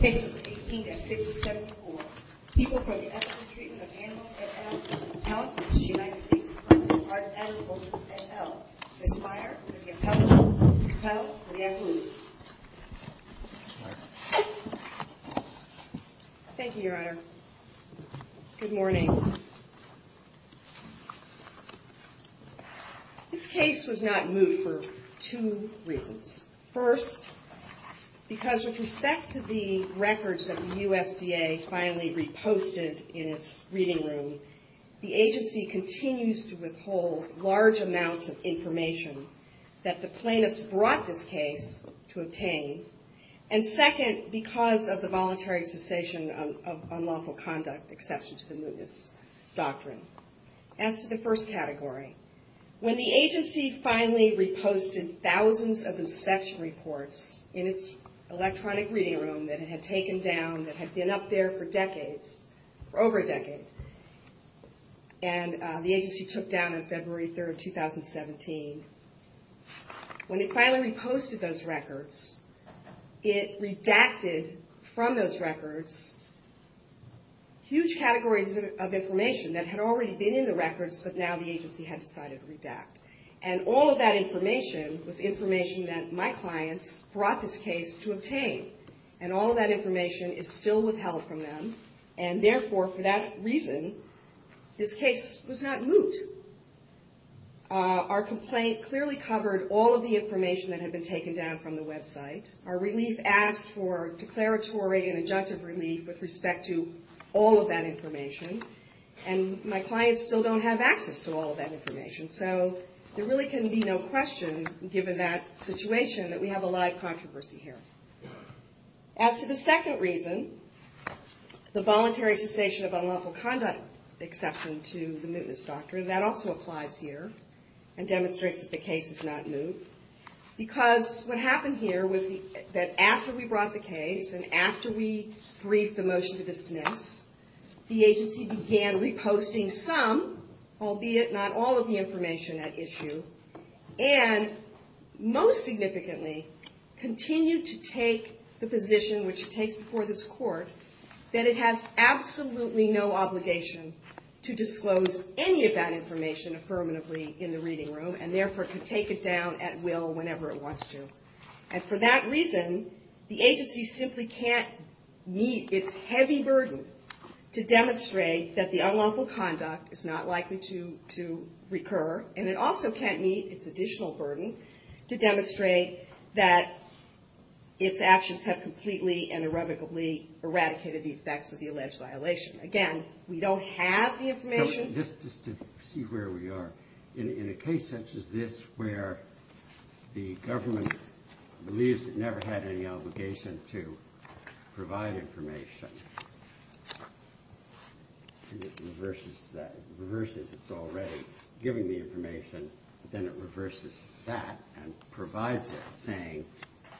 18-57-4. People for the Ethical Treatment of Animals and Animal Compounds in the United States Department of the Arts, Animals, and Health. This fire is the appellate for the appellate for the appellate. Thank you, Your Honor. Good morning. This case was not moved for two reasons. First, because with respect to the records that the USDA finally reposted in its reading room, the agency continues to withhold large amounts of information that the plaintiffs brought this case to obtain. And second, because of the voluntary cessation of unlawful conduct, exception to the Mootness Doctrine. As to the first category, when the agency finally reposted thousands of inspection reports in its electronic reading room that it had taken down, that had been up there for decades, for over a decade, and the agency took down on February 3, 2017, when it finally reposted those records, it redacted from those records huge categories of information that had already been in the records, but now the agency had decided to redact. And all of that information was information that my clients brought this case to obtain. And all of that information is still withheld from them, and therefore, for that reason, this case was not moot. Our complaint clearly covered all of the information that had been taken down from the website. Our relief asked for declaratory and adjunctive relief with respect to all of that information, and my clients still don't have access to all of that information. So there really can be no question, given that situation, that we have a live controversy here. As to the second reason, the voluntary cessation of unlawful conduct exception to the Mootness Doctrine, that also applies here, and demonstrates that the case is not moot, because what happened here was that after we brought the case, and after we briefed the motion to dismiss, the agency began reposting some, albeit not all of the information at issue, and most significantly, continued to take the position, which it takes before this court, that it has absolutely no obligation to disclose any of that information affirmatively in the reading room, and therefore, can take it down at will whenever it wants to. And for that reason, the agency simply can't meet its heavy burden to demonstrate that the unlawful conduct is not likely to recur, and it also can't meet its additional burden to demonstrate that its actions have completely and irrevocably eradicated the effects of the alleged violation. Again, we don't have the information. Just to see where we are, in a case such as this, where the government believes it never had any obligation to provide information, and it reverses that, it reverses its already giving the information, then it reverses that, and provides it, saying,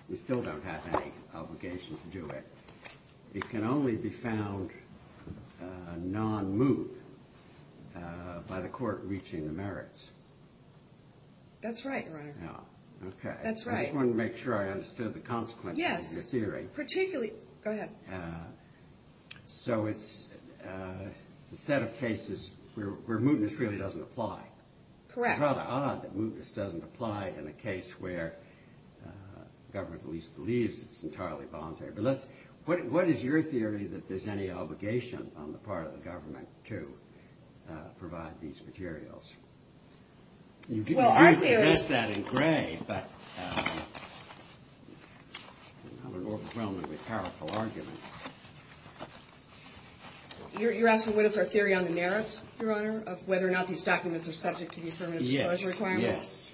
we still don't have any obligation to do it. It can only be found non-moot by the court reaching the merits. That's right, Your Honor. Okay. That's right. I just wanted to make sure I understood the consequences of your theory. Yes, particularly, go ahead. So it's a set of cases where mootness really doesn't apply. Correct. It's rather odd that mootness doesn't apply in a case where government at least believes it's entirely voluntary. But what is your theory that there's any obligation on the part of the government to provide these materials? Well, our theory... You didn't address that in gray, but... I'm an orphaned Roman with powerful argument. You're asking what is our theory on the merits, Your Honor, of whether or not these documents are subject to the affirmative disclosure requirements? Yes.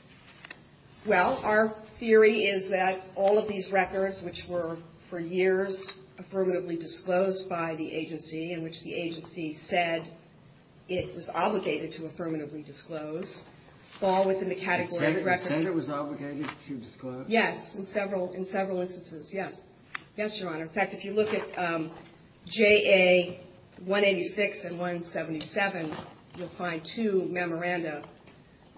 Well, our theory is that all of these records, which were for years affirmatively disclosed by the agency, in which the agency said it was obligated to affirmatively disclose, fall within the category of records... You said it was obligated to disclose? Yes, in several instances, yes. Yes, Your Honor. In fact, if you look at JA 186 and 177, you'll find two memoranda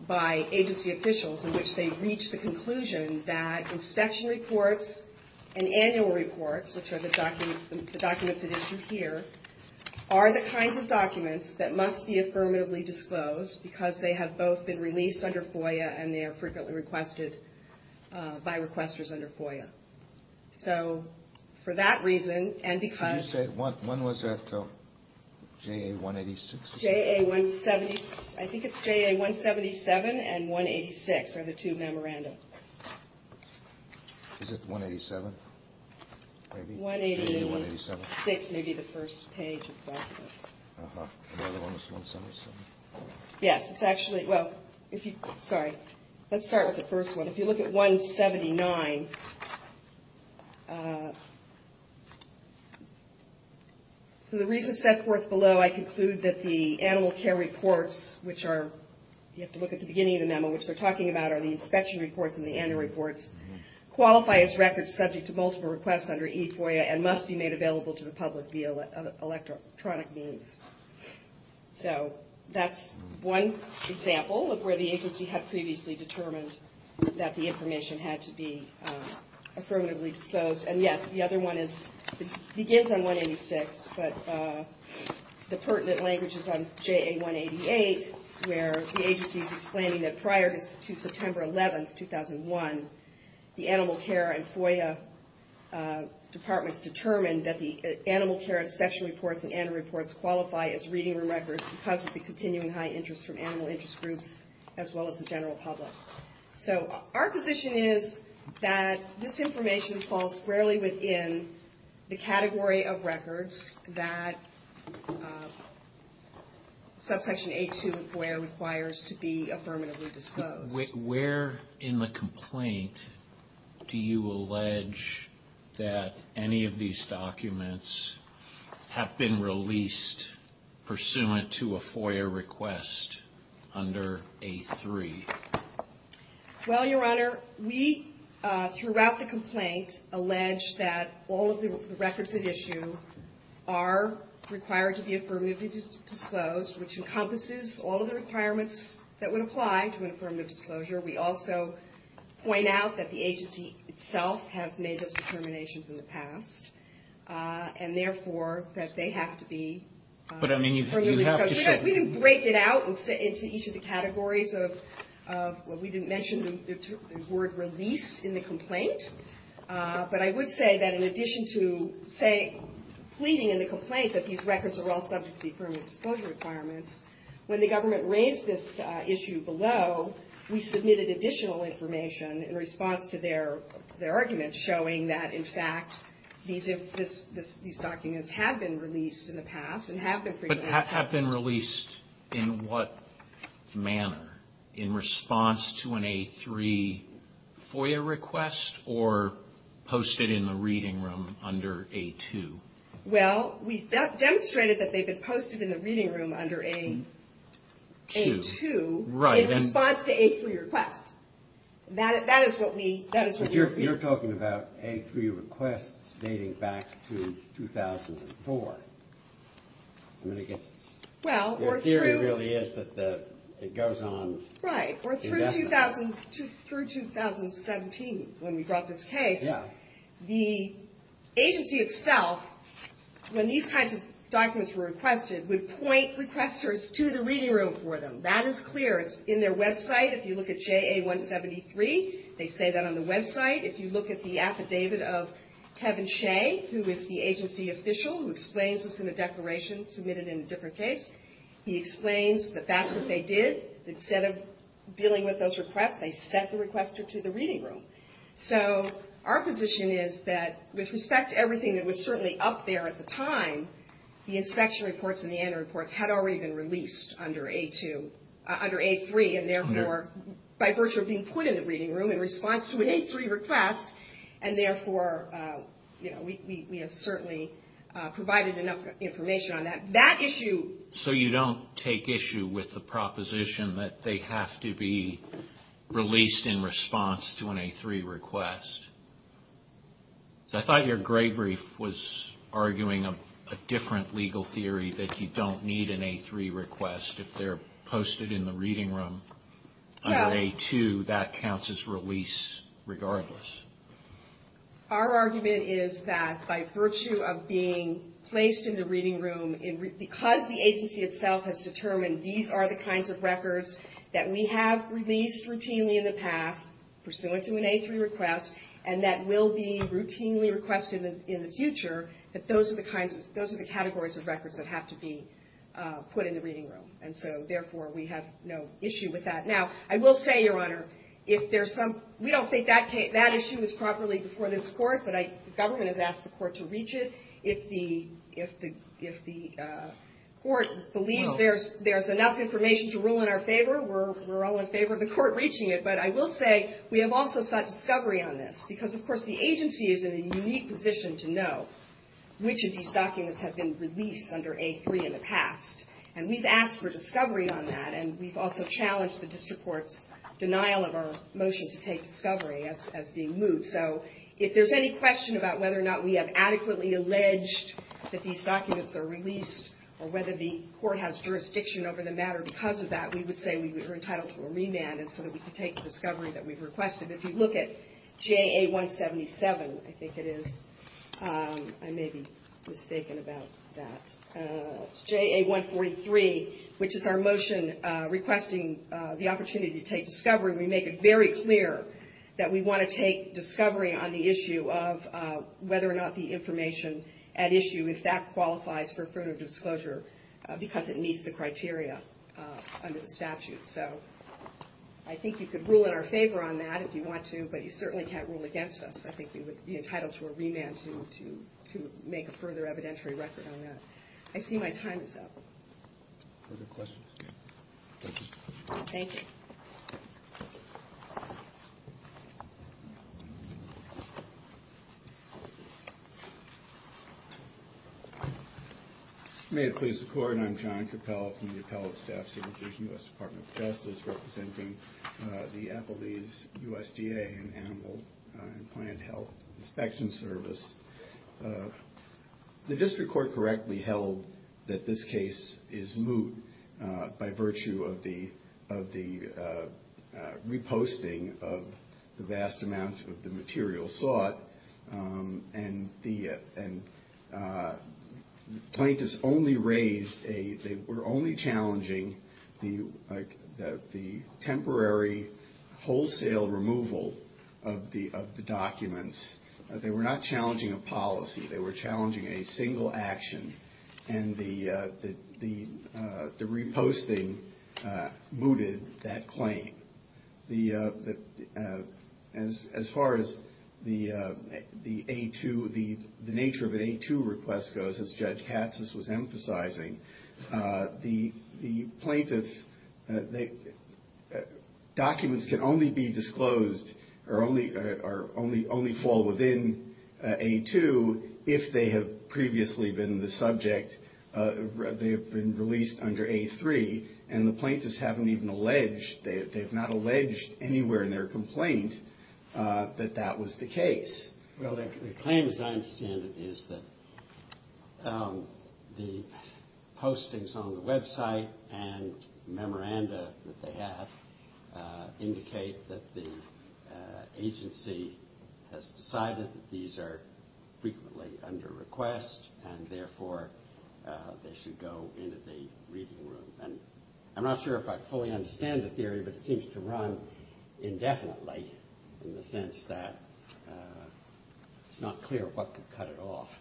by agency officials in which they reach the conclusion that inspection reports and annual reports, which are the documents at issue here, are the kinds of documents that must be affirmatively disclosed because they have both been released under FOIA and they are frequently requested by requesters under FOIA. So, for that reason, and because... You said, when was that, though? JA 186? JA 176, I think it's JA 177 and 186 are the two memoranda. Is it 187? 186 may be the first page of that. Uh-huh. The other one was 177? Yes, it's actually, well, if you, sorry, let's start with the first one. If you look at 179, for the reasons set forth below, I conclude that the animal care reports, which are, you have to look at the beginning of the memo, which they're talking about are the inspection reports and the annual reports, qualify as records subject to multiple requests under e-FOIA and must be made available to the public via electronic means. So, that's one example of where the agency had previously determined that the information had to be affirmatively disclosed. And yes, the other one is, it begins on 186, but the pertinent language is on JA 188, where the agency is explaining that prior to September 11th, 2001, the animal care and FOIA departments determined that the animal care inspection reports and annual reports qualify as reading room records because of the continuing high interest from animal interest groups, as well as the general public. So, our position is that this information falls squarely within the category of records that subsection A2 of FOIA requires to be affirmatively disclosed. Where in the complaint do you allege that any of these documents have been released pursuant to a FOIA request under A3? Well, Your Honor, we, throughout the complaint, allege that all of the records at issue are required to be affirmatively disclosed, which encompasses all of the requirements that would apply to an affirmative disclosure. We also point out that the agency itself has made those determinations in the past, and therefore, that they have to be affirmatively disclosed. We didn't break it out into each of the categories of, well, we didn't mention the word release in the complaint. But I would say that in addition to, say, pleading in the complaint that these records are all subject to the affirmative disclosure requirements, when the government raised this issue below, we submitted additional information in response to their argument showing that, in fact, these documents have been released in the past and have been free to be disclosed. Well, we've demonstrated that they've been posted in the reading room under A2 in response to A3 requests. But you're talking about A3 requests dating back to 2004. I mean, I guess your theory really is that it goes on indefinitely. Right. Or through 2017, when we brought this case. Yeah. The agency itself, when these kinds of documents were requested, would point requesters to the reading room for them. That is clear. It's in their website. If you look at JA173, they say that on the website. If you look at the affidavit of Kevin Shea, who is the agency official who explains this in a declaration submitted in a different case, he explains that that's what they did. Instead of dealing with those requests, they sent the requester to the reading room. So, our position is that, with respect to everything that was certainly up there at the time, the inspection reports and the annual reports had already been released under A3, and therefore, by virtue of being put in the reading room in response to an A3 request, and therefore, we have certainly provided enough information on that. So, you don't take issue with the proposition that they have to be released in response to an A3 request? I thought your gray brief was arguing a different legal theory, that you don't need an A3 request if they're posted in the reading room. Yeah. Under A2, that counts as release regardless. Our argument is that, by virtue of being placed in the reading room, because the agency itself has determined these are the kinds of records that we have released routinely in the past, pursuant to an A3 request, and that will be routinely requested in the future, that those are the categories of records that have to be put in the reading room. And so, therefore, we have no issue with that. Now, I will say, Your Honor, if there's some, we don't think that issue is properly before this court, but the government has asked the court to reach it. If the court believes there's enough information to rule in our favor, we're all in favor of the court reaching it. But I will say, we have also sought discovery on this, because, of course, the agency is in a unique position to know which of these documents have been released under A3 in the past. And we've asked for discovery on that, and we've also challenged the district court's denial of our motion to take discovery as being moved. So, if there's any question about whether or not we have adequately alleged that these documents are released, or whether the court has jurisdiction over the matter because of that, we would say we are entitled to a remand so that we can take the discovery that we've requested. If you look at JA-177, I think it is. I may be mistaken about that. It's JA-143, which is our motion requesting the opportunity to take discovery. We make it very clear that we want to take discovery on the issue of whether or not the information at issue, if that qualifies for further disclosure, because it meets the criteria under the statute. So, I think you could rule in our favor on that if you want to, but you certainly can't rule against us. I think we would be entitled to a remand to make a further evidentiary record on that. I see my time is up. Further questions? Thank you. May it please the Court, I'm John Cappell from the Appellate Staff Services, U.S. Department of Justice, representing the Applebee's USDA and Animal and Plant Health Inspection Service. The district court correctly held that this case is moot by virtue of the reposting of the vast amount of the material sought, and the plaintiffs only raised a, they were only challenging the temporary wholesale removal of the documents. They were not challenging a policy. They were challenging a single action, and the reposting mooted that claim. As far as the A2, the nature of an A2 request goes, as Judge Katsas was emphasizing, the plaintiff, documents can only be disclosed or only fall within A2 if they have previously been the subject, they have been released under A3, and the plaintiffs haven't even alleged, they have not alleged anywhere in their complaint that that was the case. Well, the claim, as I understand it, is that the postings on the website and memoranda that they have indicate that the agency has decided that these are frequently under request, and therefore they should go into the reading room. And I'm not sure if I fully understand the theory, but it seems to run indefinitely, in the sense that it's not clear what could cut it off.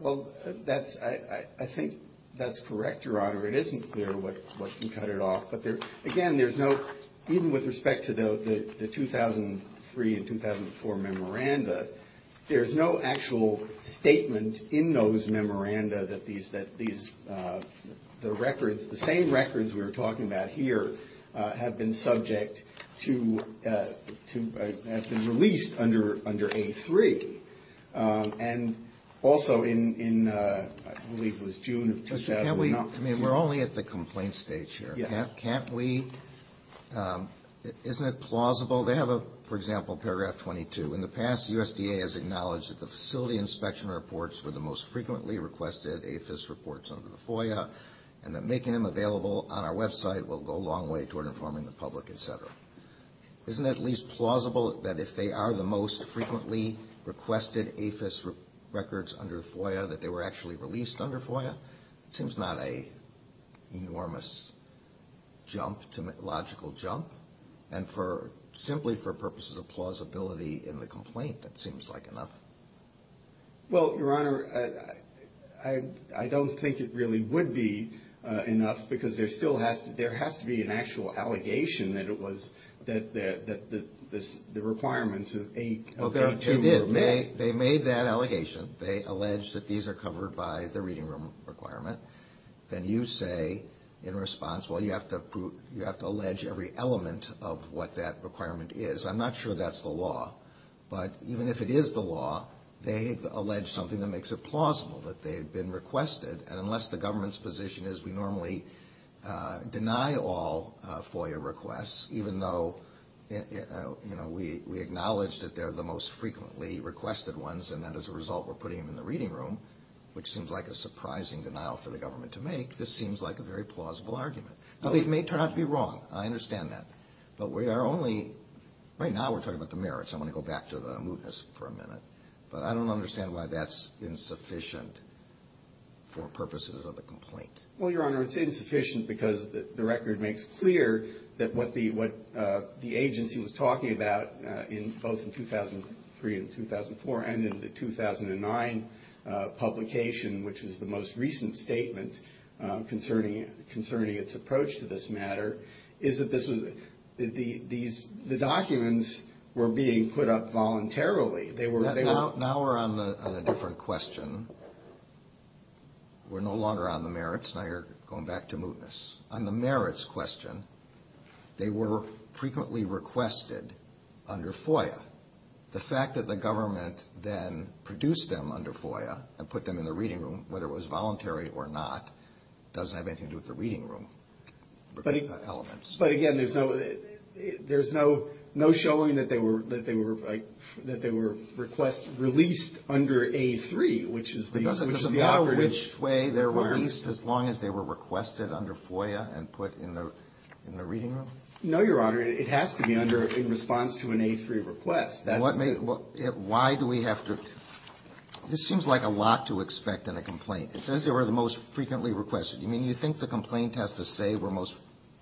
Well, that's, I think that's correct, Your Honor. It isn't clear what can cut it off, but again, there's no, even with respect to the 2003 and 2004 memoranda, there's no actual statement in those memoranda that these, the records, the same records we were talking about here have been subject to, have been released under A3. And also in, I believe it was June of 2009. Can we, I mean, we're only at the complaint stage here. Yes. Can't we, isn't it plausible, they have a, for example, paragraph 22. In the past, USDA has acknowledged that the facility inspection reports were the most frequently requested AFIS reports under the FOIA, and that making them available on our website will go a long way toward informing the public, et cetera. Isn't it at least plausible that if they are the most frequently requested AFIS records under FOIA, that they were actually released under FOIA? It seems not an enormous jump, logical jump. And for, simply for purposes of plausibility in the complaint, that seems like enough. Well, Your Honor, I don't think it really would be enough, because there still has to, there has to be an actual allegation that it was, that the requirements of A3 were met. They made that allegation. They allege that these are covered by the reading room requirement. Then you say in response, well, you have to allege every element of what that requirement is. I'm not sure that's the law. But even if it is the law, they've alleged something that makes it plausible, that they've been requested. And unless the government's position is we normally deny all FOIA requests, even though, you know, we acknowledge that they're the most frequently requested ones, and that as a result we're putting them in the reading room, which seems like a surprising denial for the government to make, this seems like a very plausible argument. Now, they may turn out to be wrong. I understand that. But we are only, right now we're talking about the merits. I want to go back to the mootness for a minute. But I don't understand why that's insufficient for purposes of the complaint. Well, Your Honor, it's insufficient because the record makes clear that what the agency was talking about both in 2003 and 2004 and in the 2009 publication, which was the most recent statement concerning its approach to this matter, is that the documents were being put up voluntarily. Now we're on a different question. We're no longer on the merits. Now you're going back to mootness. On the merits question, they were frequently requested under FOIA. The fact that the government then produced them under FOIA and put them in the reading room, whether it was voluntary or not, doesn't have anything to do with the reading room elements. But, again, there's no showing that they were released under A3, which is the authority. It doesn't matter which way they were released as long as they were requested under FOIA and put in the reading room? No, Your Honor. It has to be under in response to an A3 request. Why do we have to? This seems like a lot to expect in a complaint. It says they were the most frequently requested. You mean you think the complaint has to say were most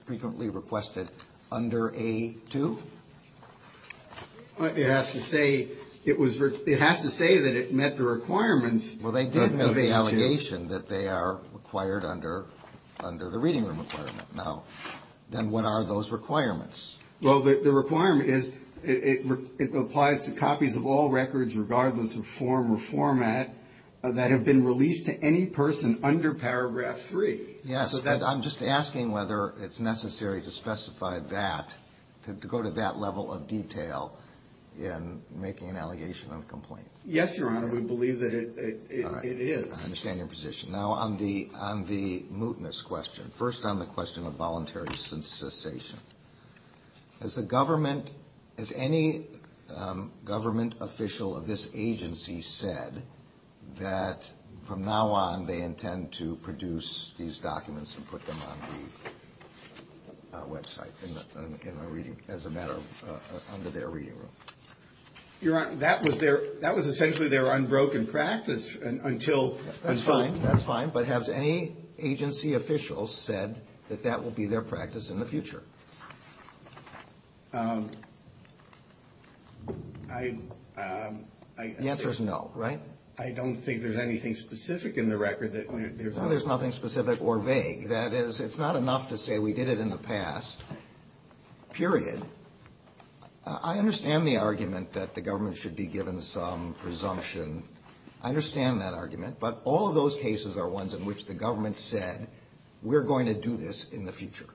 frequently requested under A2? It has to say that it met the requirements. Well, they did have an allegation that they are required under the reading room requirement. Now, then what are those requirements? Well, the requirement is it applies to copies of all records, regardless of form or format, that have been released to any person under Paragraph 3. Yes, but I'm just asking whether it's necessary to specify that, to go to that level of detail in making an allegation on a complaint. Yes, Your Honor. We believe that it is. I understand your position. Now, on the mootness question, first on the question of voluntary cessation, has the government, has any government official of this agency said that from now on they intend to produce these documents and put them on the website in a reading, as a matter of, under their reading room? Your Honor, that was essentially their unbroken practice until. That's fine. That's fine. But has any agency official said that that will be their practice in the future? I. The answer is no, right? I don't think there's anything specific in the record that. No, there's nothing specific or vague. That is, it's not enough to say we did it in the past, period. I understand the argument that the government should be given some presumption. I understand that argument, but all of those cases are ones in which the government said we're going to do this in the future.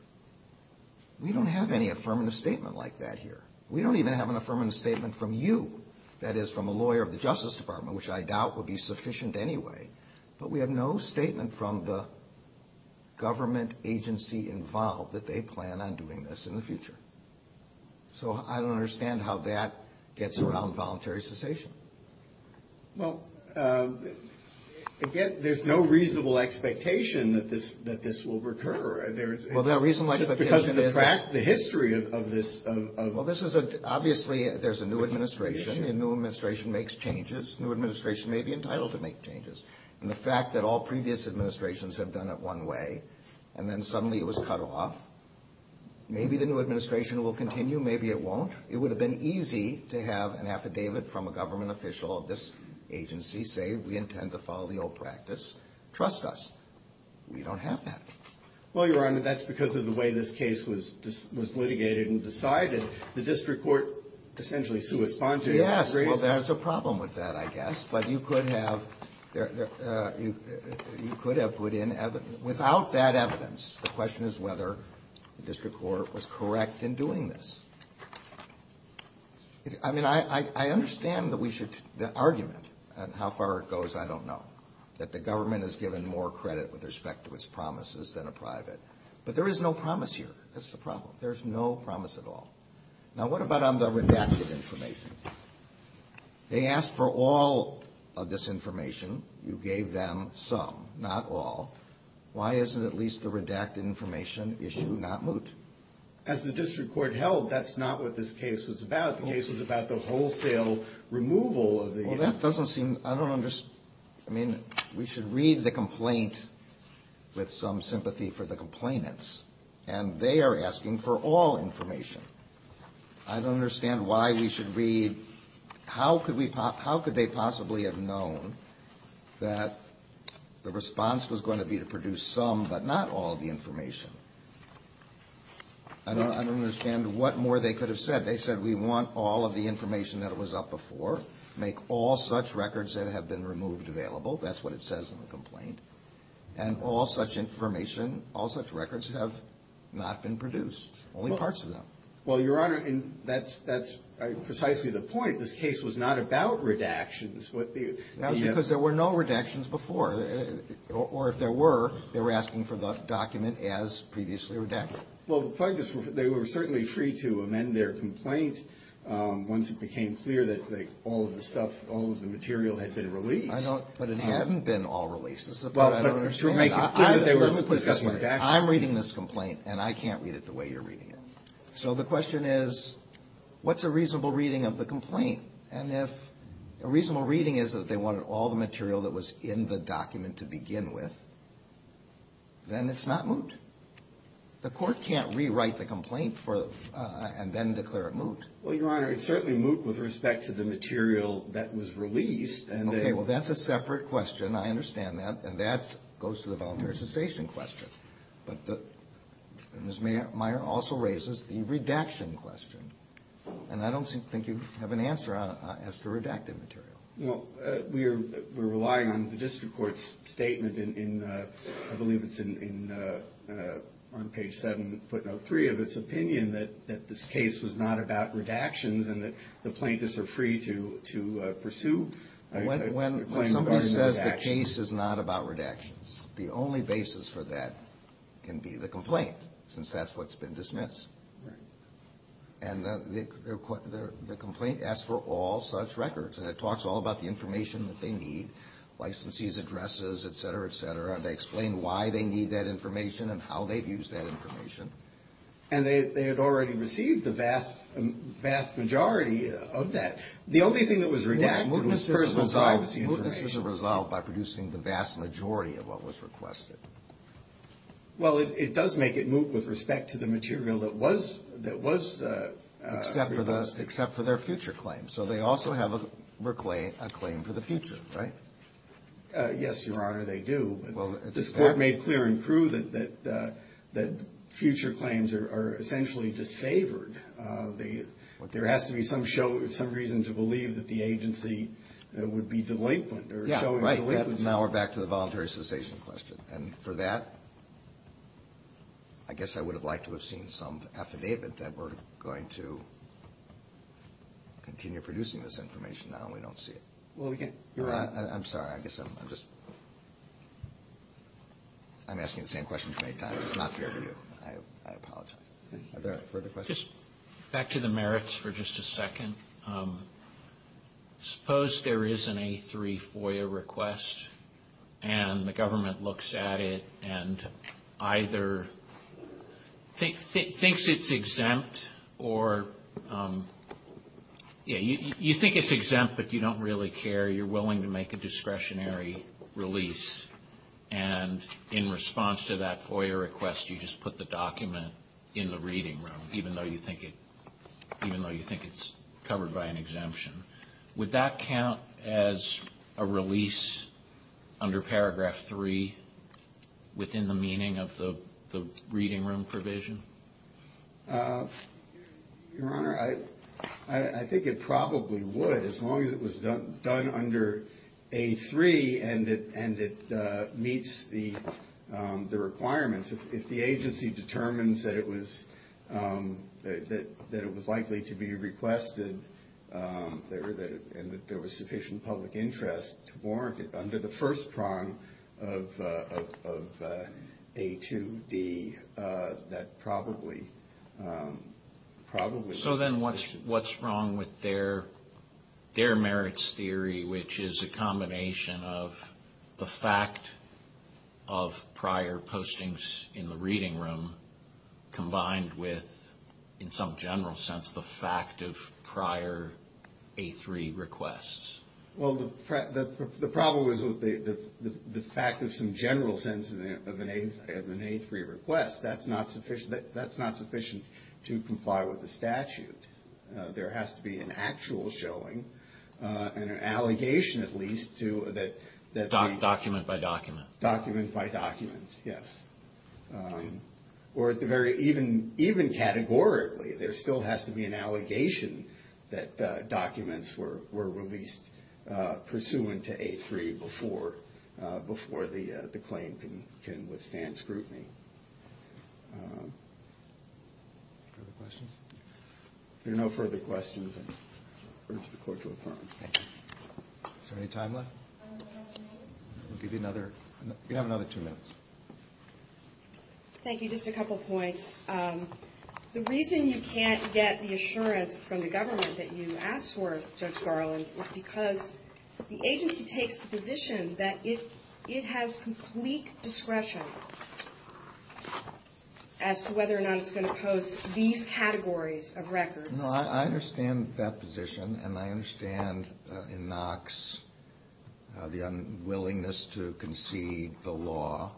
We don't have any affirmative statement like that here. We don't even have an affirmative statement from you, that is, from a lawyer of the Justice Department, which I doubt would be sufficient anyway. But we have no statement from the government agency involved that they plan on doing this in the future. So I don't understand how that gets around voluntary cessation. Well, again, there's no reasonable expectation that this will recur. Well, the reasonable expectation is. Just because the history of this. Well, this is a. Obviously, there's a new administration. A new administration makes changes. A new administration may be entitled to make changes. And the fact that all previous administrations have done it one way, and then suddenly it was cut off. Maybe the new administration will continue. Maybe it won't. It would have been easy to have an affidavit from a government official of this agency say we intend to follow the old practice. Trust us. We don't have that. Well, Your Honor, that's because of the way this case was litigated and decided. The district court essentially co-responded. Yes. Well, there's a problem with that, I guess. But you could have. You could have put in. Without that evidence, the question is whether the district court was correct in doing this. I mean, I understand that we should. The argument on how far it goes, I don't know. That the government has given more credit with respect to its promises than a private. But there is no promise here. That's the problem. There's no promise at all. Now, what about on the redacted information? They asked for all of this information. You gave them some, not all. Why isn't at least the redacted information issue not moot? As the district court held, that's not what this case was about. The case was about the wholesale removal of the. Well, that doesn't seem. I don't understand. I mean, we should read the complaint with some sympathy for the complainants. And they are asking for all information. I don't understand why we should read. How could they possibly have known that the response was going to be to produce some but not all of the information? I don't understand what more they could have said. They said we want all of the information that was up before. Make all such records that have been removed available. That's what it says in the complaint. And all such information, all such records have not been produced. Only parts of them. Well, Your Honor, that's precisely the point. This case was not about redactions. That was because there were no redactions before. Or if there were, they were asking for the document as previously redacted. Well, the plaintiffs, they were certainly free to amend their complaint once it became clear that all of the stuff, all of the material had been released. But it hadn't been all released. This is what I don't understand. I'm reading this complaint, and I can't read it the way you're reading it. So the question is, what's a reasonable reading of the complaint? And if a reasonable reading is that they wanted all the material that was in the document to begin with, then it's not moot. The Court can't rewrite the complaint and then declare it moot. Well, Your Honor, it's certainly moot with respect to the material that was released. Okay. Well, that's a separate question. I understand that. And that goes to the voluntary cessation question. But Ms. Meyer also raises the redaction question. And I don't think you have an answer as to redacted material. Well, we're relying on the district court's statement in, I believe it's on page 7, footnote 3, of its opinion that this case was not about redactions and that the plaintiffs are free to pursue a claim regarding redactions. When somebody says the case is not about redactions, the only basis for that can be the complaint, since that's what's been dismissed. Right. And the complaint asks for all such records. And it talks all about the information that they need, licensees' addresses, et cetera, et cetera. They explain why they need that information and how they've used that information. And they had already received the vast majority of that. The only thing that was redacted was personal privacy information. Mootness is resolved by producing the vast majority of what was requested. Well, it does make it moot with respect to the material that was requested. Except for their future claims. So they also have a claim for the future, right? Yes, Your Honor, they do. This Court made clear in Crewe that future claims are essentially disfavored. There has to be some reason to believe that the agency would be delinquent. Yeah, right. Now we're back to the voluntary cessation question. And for that, I guess I would have liked to have seen some affidavit that we're going to continue producing this information now, and we don't see it. Well, we can't. Your Honor, I'm sorry. I guess I'm just asking the same question too many times. It's not fair to you. I apologize. Are there further questions? Just back to the merits for just a second. Suppose there is an A3 FOIA request and the government looks at it and either thinks it's exempt or, yeah, you think it's exempt, but you don't really care. You're willing to make a discretionary release. And in response to that FOIA request, you just put the document in the reading room, even though you think it's covered by an exemption. Would that count as a release under Paragraph 3 within the meaning of the reading room provision? Your Honor, I think it probably would as long as it was done under A3 and it meets the requirements. If the agency determines that it was likely to be requested and that there was sufficient public interest to warrant it under the first prong of A2D, that probably would be sufficient. So then what's wrong with their merits theory, which is a combination of the fact of prior postings in the reading room combined with, in some general sense, the fact of prior A3 requests? Well, the problem is with the fact of some general sense of an A3 request. That's not sufficient to comply with the statute. There has to be an actual showing and an allegation at least to that document by document. Document by document, yes. Or even categorically, there still has to be an allegation that documents were released pursuant to A3 before the claim can withstand scrutiny. Further questions? If there are no further questions, I urge the Court to adjourn. Thank you. Is there any time left? We'll give you another two minutes. Thank you. Just a couple points. The reason you can't get the assurance from the government that you asked for, Judge Garland, is because the agency takes the position that it has complete discretion as to whether or not it's going to post these categories of records. No, I understand that position, and I understand in Knox the unwillingness to concede the law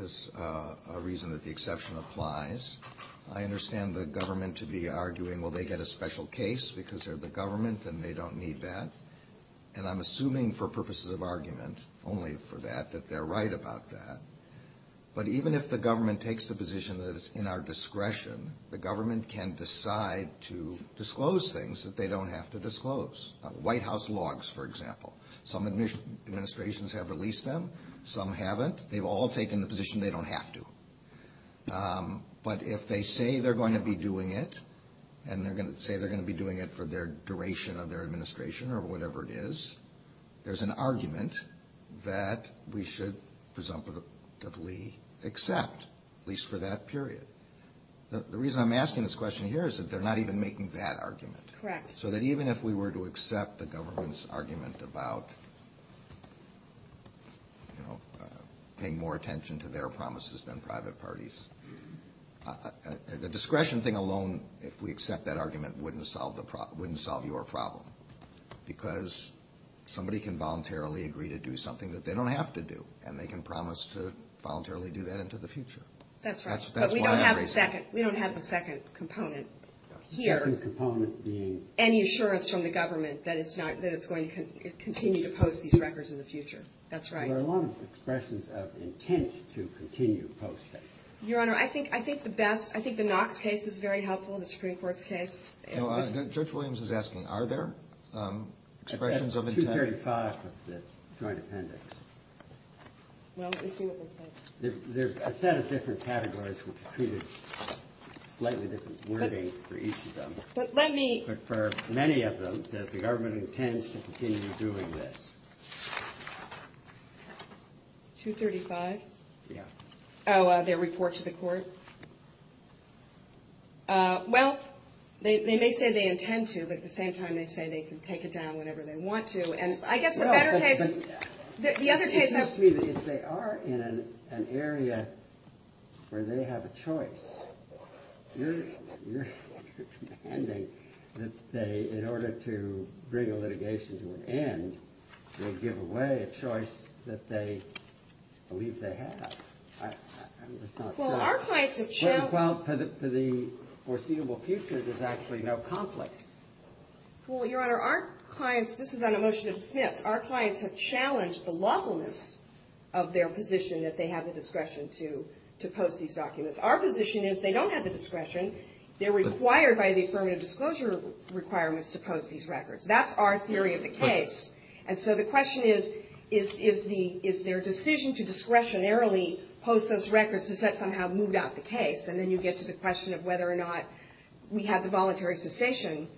is a reason that the exception applies. I understand the government to be arguing, well, they get a special case because they're the government and they don't need that. And I'm assuming for purposes of argument only for that, that they're right about that. But even if the government takes the position that it's in our discretion, the government can decide to disclose things that they don't have to disclose. White House logs, for example. Some administrations have released them. Some haven't. They've all taken the position they don't have to. But if they say they're going to be doing it, and say they're going to be doing it for the duration of their administration or whatever it is, there's an argument that we should presumptively accept, at least for that period. The reason I'm asking this question here is that they're not even making that argument. Correct. So that even if we were to accept the government's argument about, you know, paying more attention to their promises than private parties, the discretion thing alone, if we accept that argument, wouldn't solve your problem. Because somebody can voluntarily agree to do something that they don't have to do, and they can promise to voluntarily do that into the future. That's right. But we don't have the second component here. The second component being? Any assurance from the government that it's going to continue to post these records in the future. That's right. There are a lot of expressions of intent to continue posting. Your Honor, I think the best, I think the Knox case is very helpful, the Supreme Court's case. No, Judge Williams is asking, are there expressions of intent? 235 of the joint appendix. Well, let me see what they say. There's a set of different categories which treated slightly different wording for each of them. But let me. But for many of them, it says the government intends to continue doing this. 235? Yeah. Oh, their report to the court? Well, they may say they intend to, but at the same time, they say they can take it down whenever they want to. And I guess the better case, the other case. It seems to me that if they are in an area where they have a choice, you're demanding that they, in order to bring a litigation to an end, they give away a choice that they believe they have. I'm just not sure. Well, our clients have challenged. Well, for the foreseeable future, there's actually no conflict. Well, Your Honor, our clients, this is on a motion to dismiss. Our clients have challenged the lawfulness of their position that they have the discretion to post these documents. Our position is they don't have the discretion. They're required by the affirmative disclosure requirements to post these records. That's our theory of the case. And so the question is, is their decision to discretionarily post those records, has that somehow moved out the case? And then you get to the question of whether or not we have the voluntary cessation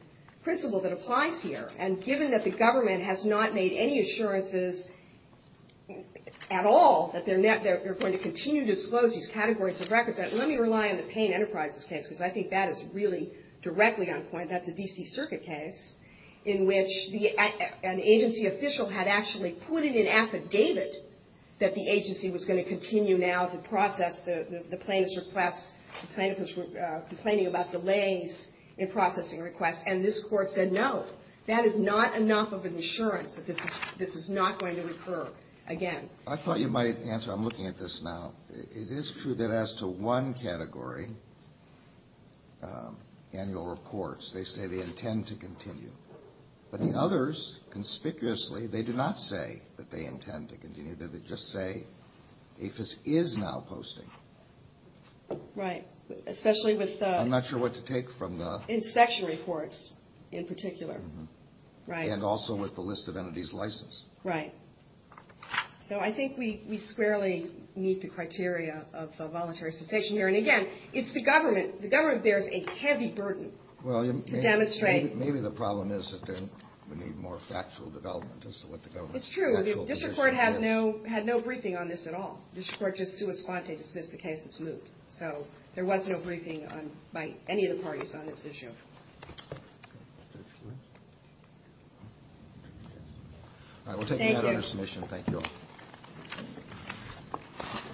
principle that applies here. And given that the government has not made any assurances at all that they're going to continue to disclose these categories of records, let me rely on the Payne Enterprises case, because I think that is really directly on point. That's a D.C. Circuit case in which an agency official had actually put in an affidavit that the agency was going to continue now to process the plaintiff's request, the plaintiff was complaining about delays in processing requests. And this Court said, no, that is not enough of an assurance that this is not going to recur again. I thought you might answer. I'm looking at this now. It is true that as to one category, annual reports, they say they intend to continue. But the others, conspicuously, they do not say that they intend to continue. They just say APHIS is now posting. Right. Especially with the... I'm not sure what to take from the... Inspection reports, in particular. And also with the list of entities licensed. Right. So I think we squarely meet the criteria of the voluntary cessation here. And again, it's the government. The government bears a heavy burden to demonstrate... Maybe the problem is that we need more factual development as to what the government's actual position is. It's true. The District Court had no briefing on this at all. The District Court just sua sponte dismissed the case. It's moved. So there was no briefing by any of the parties on this issue. All right. We'll take another submission. Thank you all.